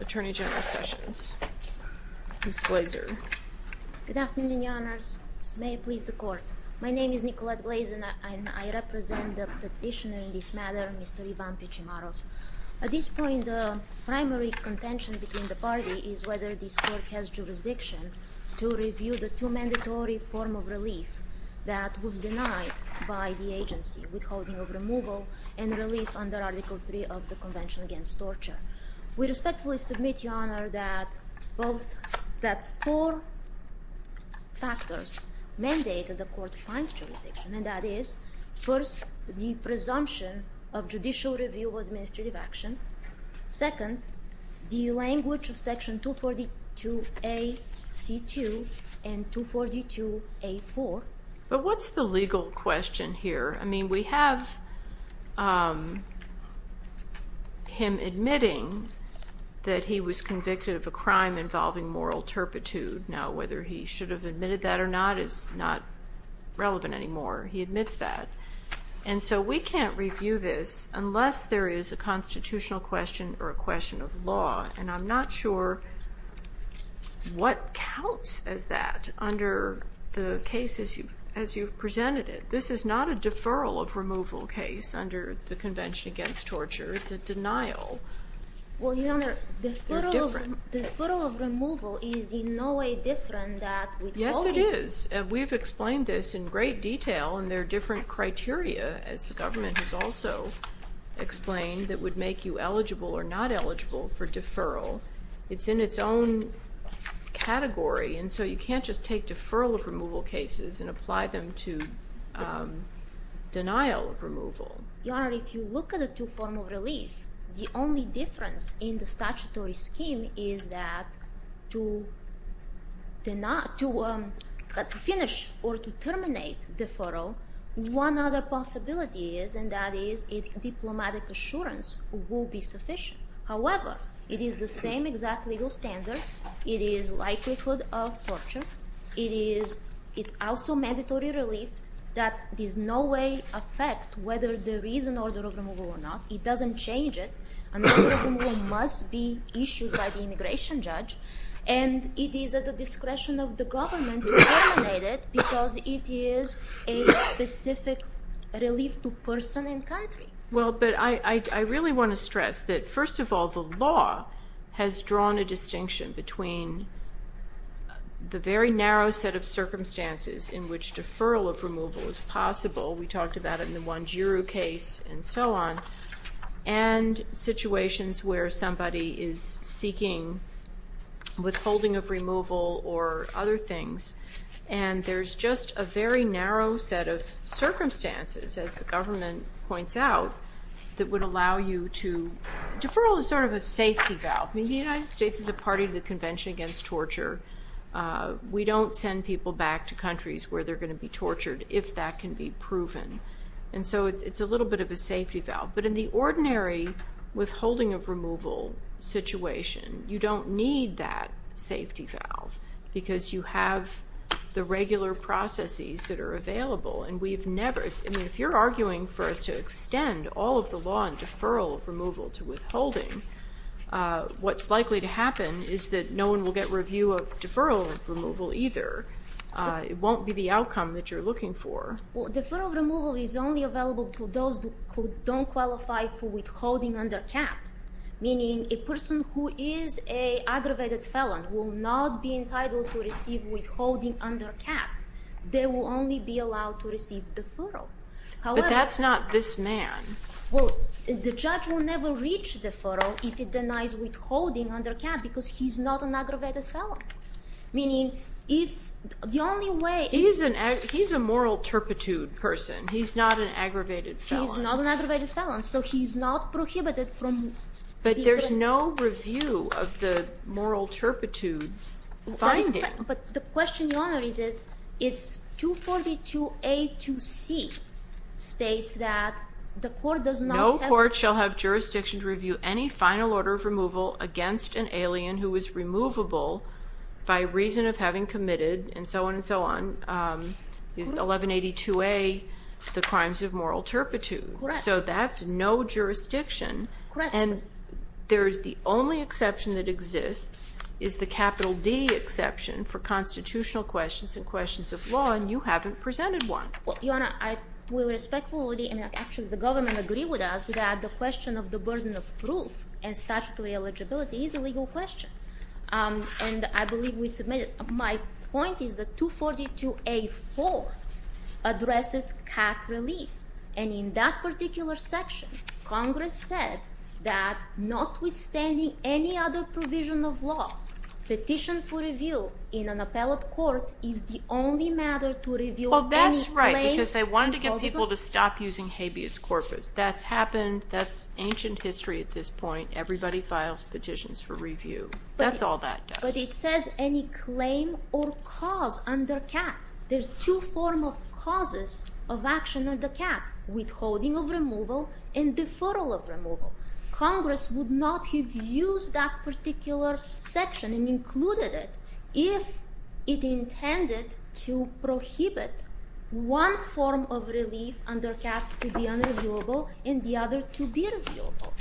Attorney General Sessions v. Pichimarov Good afternoon, Your Honors. May it please the Court. My name is Nicolette Blazin, and I represent the petitioner in this matter, Mr. Ivan Pichimarov. At this point, the primary contention between the parties is whether this Court has jurisdiction to review the two mandatory forms of relief that were denied by the agency, withholding of removal and relief under Article III of the Convention Against Torture. We respectfully submit, Your Honor, that four factors mandate that the Court finds jurisdiction, and that is, first, the presumption of judicial review of administrative action. Second, the language of Section 242A.C.2 and 242A.4. But what's the legal question here? I mean, we have him admitting that he was convicted of a crime involving moral turpitude. Now, whether he should have admitted that or not is not relevant anymore. He admits that. And so we can't review this unless there is a constitutional question or a question of law, and I'm not sure what counts as that under the cases as you've presented it. This is not a deferral of removal case under the Convention Against Torture. It's a denial. Well, Your Honor, deferral of removal is in no way different than withholding. Yes, it is. We've explained this in great detail, and there are different criteria, as the government has also explained, that would make you eligible or not eligible for deferral. It's in its own category, and so you can't just take deferral of removal cases and apply them to denial of removal. Your Honor, if you look at the two forms of relief, the only difference in the statutory scheme is that to finish or to terminate deferral, one other possibility is, and that is, a diplomatic assurance will be sufficient. However, it is the same exact legal standard. It is likelihood of torture. It is also mandatory relief that in no way affects whether there is an order of removal or not. It doesn't change it. An order of removal must be issued by the immigration judge, and it is at the discretion of the government to terminate it because it is a specific relief to person and country. Well, but I really want to stress that, first of all, the law has drawn a distinction between the very narrow set of circumstances in which deferral of removal is possible. We talked about it in the Wanjiru case and so on, and situations where somebody is seeking withholding of removal or other things, and there's just a very narrow set of circumstances, as the government points out, that would allow you to... Deferral is sort of a safety valve. I mean, the United States is a party to the Convention Against Torture. We don't send people back to countries where they're going to be tortured if that can be proven, and so it's a little bit of a safety valve, but in the ordinary withholding of removal situation, you don't need that safety valve because you have the regular processes that are available, and we've never... I mean, if you're arguing for us to extend all of the law on deferral of removal to withholding, what's likely to happen is that no one will get review of deferral of removal either. It won't be the outcome that you're looking for. Well, deferral of removal is only available to those who don't qualify for withholding under CAPT, meaning a person who is an aggravated felon will not be entitled to receive withholding under CAPT. They will only be allowed to receive deferral. But that's not this man. Well, the judge will never reach deferral if it denies withholding under CAPT because he's not an aggravated felon, meaning if the only way... He's a moral turpitude person. He's not an aggravated felon. He's not an aggravated felon, so he's not prohibited from... But there's no review of the moral turpitude finding. But the question, Your Honor, is it's 242A2C states that the court does not have... by reason of having committed, and so on and so on, 1182A, the crimes of moral turpitude. Correct. So that's no jurisdiction. Correct. And there's the only exception that exists is the capital D exception for constitutional questions and questions of law, and you haven't presented one. Well, Your Honor, I will respectfully... I mean, actually, the government agreed with us that the question of the burden of proof and statutory eligibility is a legal question. And I believe we submitted it. My point is that 242A4 addresses CAPT relief, and in that particular section, Congress said that notwithstanding any other provision of law, petition for review in an appellate court is the only matter to review any claims... Well, that's right, because I wanted to get people to stop using habeas corpus. That's happened. That's ancient history at this point. Everybody files petitions for review. That's all that does. But it says any claim or cause under CAPT. There's two forms of causes of action under CAPT, withholding of removal and deferral of removal. Congress would not have used that particular section and included it if it intended to prohibit one form of relief under CAPT to be unreviewable and the other to be reviewable.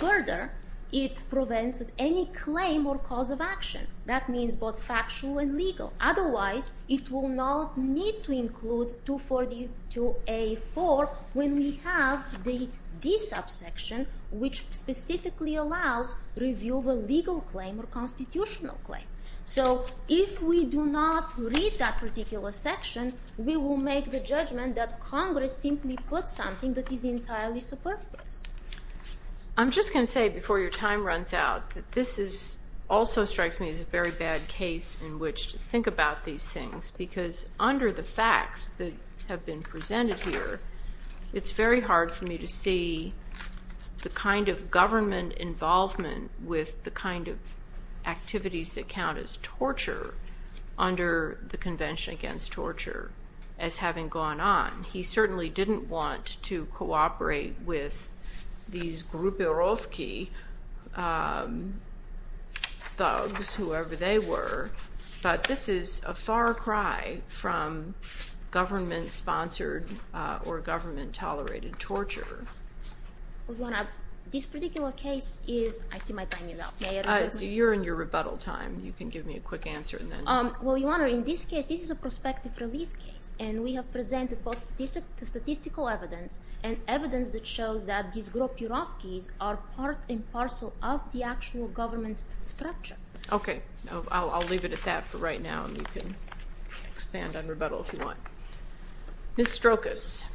Further, it prevents any claim or cause of action. That means both factual and legal. Otherwise, it will not need to include 242A4 when we have the D subsection, which specifically allows review of a legal claim or constitutional claim. So if we do not read that particular section, we will make the judgment that Congress simply put something that is entirely superfluous. I'm just going to say, before your time runs out, that this also strikes me as a very bad case in which to think about these things, because under the facts that have been presented here, it's very hard for me to see the kind of government involvement with the kind of activities that count as torture under the Convention Against Torture as having gone on. He certainly didn't want to cooperate with these Gruberowski thugs, whoever they were, but this is a far cry from government-sponsored or government-tolerated torture. This particular case is—I see my time is up. You're in your rebuttal time. You can give me a quick answer and then— Well, Your Honor, in this case, this is a prospective relief case, and we have presented both statistical evidence and evidence that shows that these Gruberowskis are part and parcel of the actual government structure. Okay. I'll leave it at that for right now, and you can expand on rebuttal if you want. Ms. Strokas.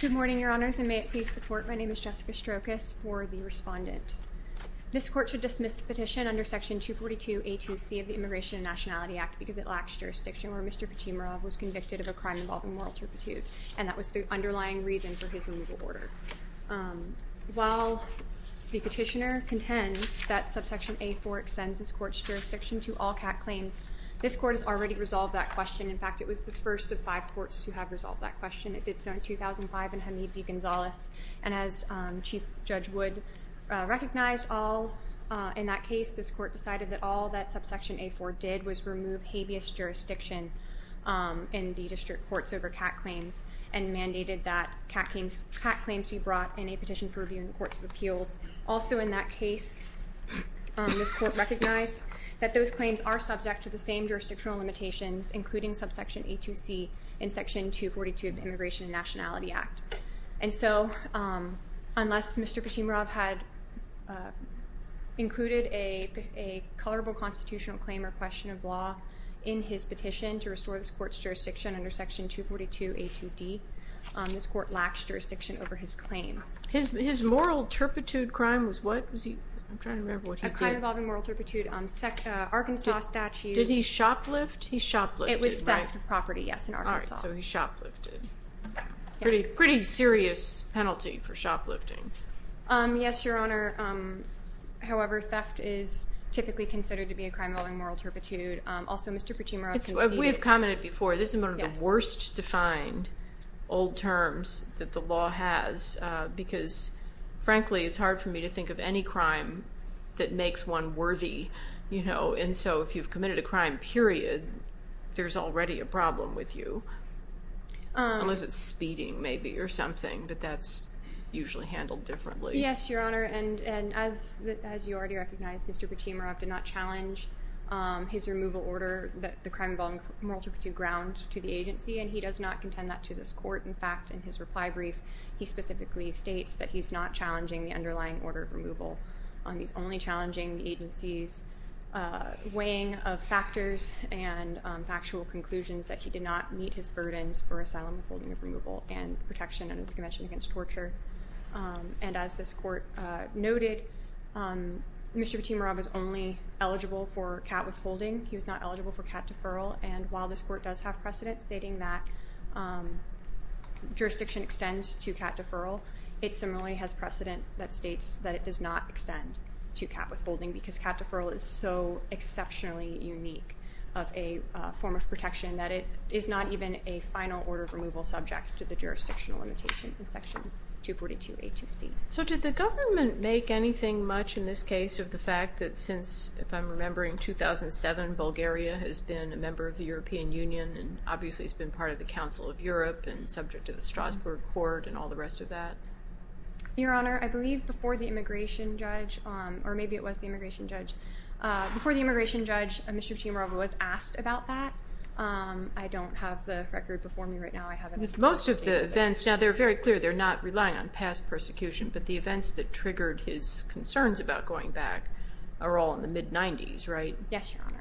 Good morning, Your Honors, and may it please the Court. My name is Jessica Strokas for the respondent. This Court should dismiss the petition under Section 242A2C of the Immigration and Nationality Act because it lacks jurisdiction where Mr. Petimorov was convicted of a crime involving moral turpitude, and that was the underlying reason for his removal order. While the petitioner contends that Subsection A4 extends this Court's jurisdiction to all CAT claims, this Court has already resolved that question. In fact, it was the first of five courts to have resolved that question. It did so in 2005 in Hamid V. Gonzalez. And as Chief Judge Wood recognized, all in that case, this Court decided that all that Subsection A4 did was remove habeas jurisdiction in the district courts over CAT claims and mandated that CAT claims be brought in a petition for review in the Courts of Appeals. Also in that case, this Court recognized that those claims are subject to the same jurisdictional limitations, including Subsection A2C in Section 242 of the Immigration and Nationality Act. And so unless Mr. Petimorov had included a colorable constitutional claim or question of law in his petition to restore this Court's jurisdiction under Section 242A2D, this Court lacks jurisdiction over his claim. His moral turpitude crime was what? I'm trying to remember what he did. A crime involving moral turpitude. Arkansas statute. Did he shoplift? He shoplifted, right? It was theft of property, yes, in Arkansas. All right, so he shoplifted. Yes. Pretty serious penalty for shoplifting. Yes, Your Honor. However, theft is typically considered to be a crime involving moral turpitude. Also, Mr. Petimorov conceded. We have commented before, this is one of the worst defined old terms that the law has because, frankly, it's hard for me to think of any crime that makes one worthy. And so if you've committed a crime, period, there's already a problem with you, unless it's speeding maybe or something, but that's usually handled differently. Yes, Your Honor, and as you already recognize, Mr. Petimorov did not challenge his removal order that the crime involving moral turpitude ground to the agency, and he does not contend that to this court. In fact, in his reply brief, he specifically states that he's not challenging the underlying order of removal. He's only challenging the agency's weighing of factors and factual conclusions that he did not meet his burdens for asylum, withholding of removal, and protection under the Convention Against Torture. And as this court noted, Mr. Petimorov is only eligible for cat withholding. He was not eligible for cat deferral. And while this court does have precedent stating that jurisdiction extends to cat deferral, it similarly has precedent that states that it does not extend to cat withholding because cat deferral is so exceptionally unique of a form of protection that it is not even a final order of removal subject to the jurisdictional limitation in Section 242A2C. So did the government make anything much in this case of the fact that since, if I'm remembering, 2007, Bulgaria has been a member of the European Union and obviously has been part of the Council of Europe and subject to the Strasbourg Court and all the rest of that? Your Honor, I believe before the immigration judge, or maybe it was the immigration judge, before the immigration judge, Mr. Petimorov was asked about that. I don't have the record before me right now. Most of the events, now they're very clear, they're not relying on past persecution, but the events that triggered his concerns about going back are all in the mid-'90s, right? Yes, Your Honor.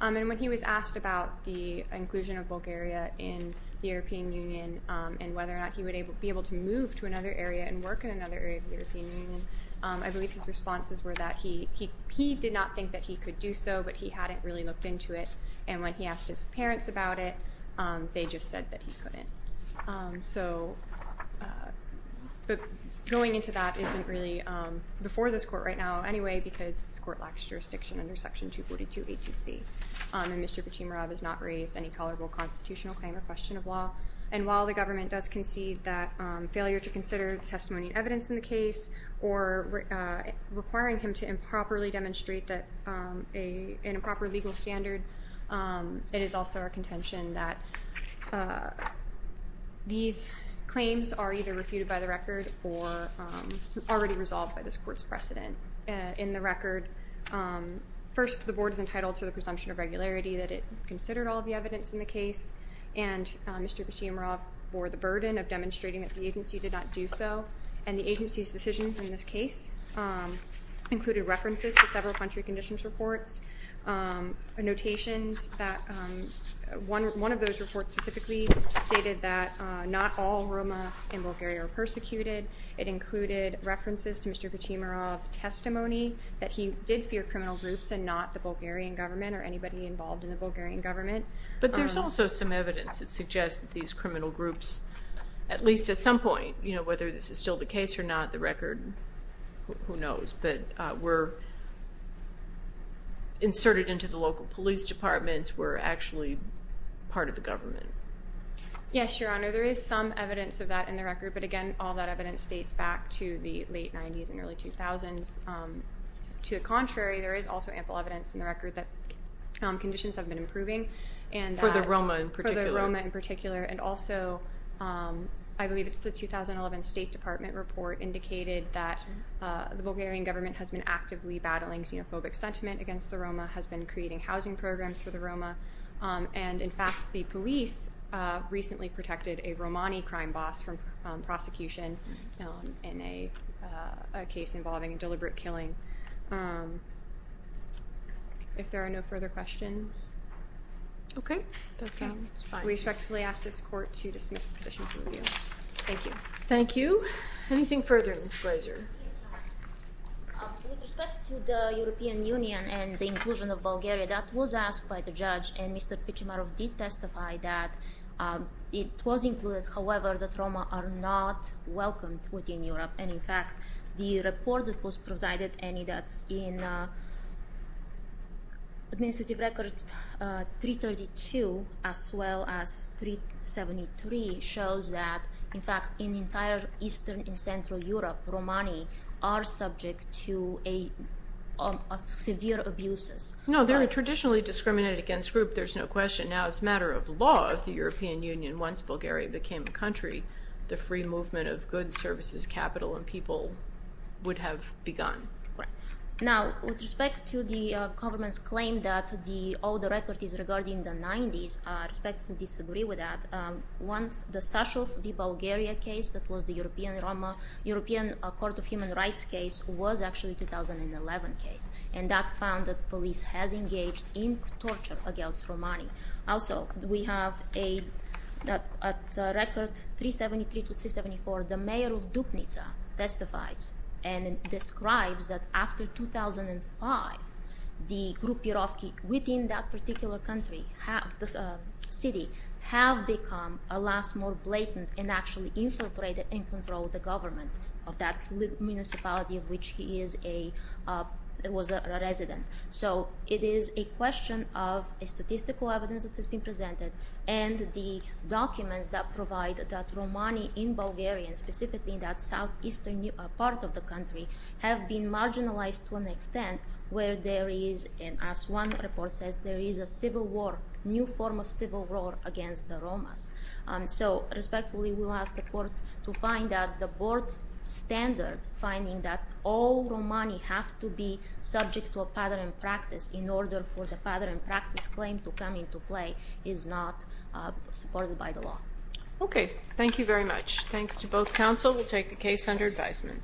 And when he was asked about the inclusion of Bulgaria in the European Union and whether or not he would be able to move to another area and work in another area of the European Union, I believe his responses were that he did not think that he could do so, but he hadn't really looked into it. And when he asked his parents about it, they just said that he couldn't. So going into that isn't really before this court right now anyway because this court lacks jurisdiction under Section 242A2C, and Mr. Petimorov has not raised any collorible constitutional claim or question of law. And while the government does concede that failure to consider the testimony and evidence in the case or requiring him to improperly demonstrate an improper legal standard, it is also our contention that these claims are either refuted by the record or already resolved by this court's precedent. In the record, first, the board is entitled to the presumption of regularity that it considered all of the evidence in the case, and Mr. Petimorov bore the burden of demonstrating that the agency did not do so, and the agency's decisions in this case included references to several country conditions reports, notations that one of those reports specifically stated that not all Roma in Bulgaria were persecuted. It included references to Mr. Petimorov's testimony that he did fear criminal groups and not the Bulgarian government or anybody involved in the Bulgarian government. But there's also some evidence that suggests that these criminal groups, at least at some point, whether this is still the case or not, the record, who knows, that were inserted into the local police departments were actually part of the government. Yes, Your Honor, there is some evidence of that in the record, but again, all that evidence dates back to the late 90s and early 2000s. To the contrary, there is also ample evidence in the record that conditions have been improving. For the Roma in particular. For the Roma in particular. And also, I believe it's the 2011 State Department report indicated that the Bulgarian government has been actively battling xenophobic sentiment against the Roma, has been creating housing programs for the Roma, and, in fact, the police recently protected a Romani crime boss from prosecution in a case involving deliberate killing. If there are no further questions. Okay. We respectfully ask this court to dismiss the petition from review. Thank you. Thank you. Anything further, Ms. Glazer? With respect to the European Union and the inclusion of Bulgaria, that was asked by the judge, and Mr. Pichumarov did testify that it was included. However, the Roma are not welcomed within Europe, and, in fact, the report that was presided, and that's in administrative record 332, as well as 373, shows that, in fact, in entire Eastern and Central Europe, Romani are subject to severe abuses. No, they're traditionally discriminated against group, there's no question. Now, it's a matter of law of the European Union. Once Bulgaria became a country, the free movement of goods, services, capital, and people would have begun. Right. Now, with respect to the government's claim that all the record is regarding the 90s, I respectfully disagree with that. The Sashov v. Bulgaria case, that was the European Court of Human Rights case, was actually a 2011 case, and that found that police has engaged in torture against Romani. Also, we have a record 373 to 374, the mayor of Dupnica testifies, and describes that after 2005, the Grupyarovki within that particular country, the city, have become, alas, more blatant, and actually infiltrated and controlled the government of that municipality of which he was a resident. So, it is a question of a statistical evidence that has been presented, and the documents that provide that Romani in Bulgaria, and specifically in that southeastern part of the country, have been marginalized to an extent where there is, as one report says, there is a civil war, new form of civil war against the Romas. So, respectfully, we will ask the court to find out the board standard, finding that all Romani have to be subject to a pattern of practice in order for the pattern of practice claim to come into play is not supported by the law. Okay. Thank you very much. Thanks to both counsel. We'll take the case under advisement.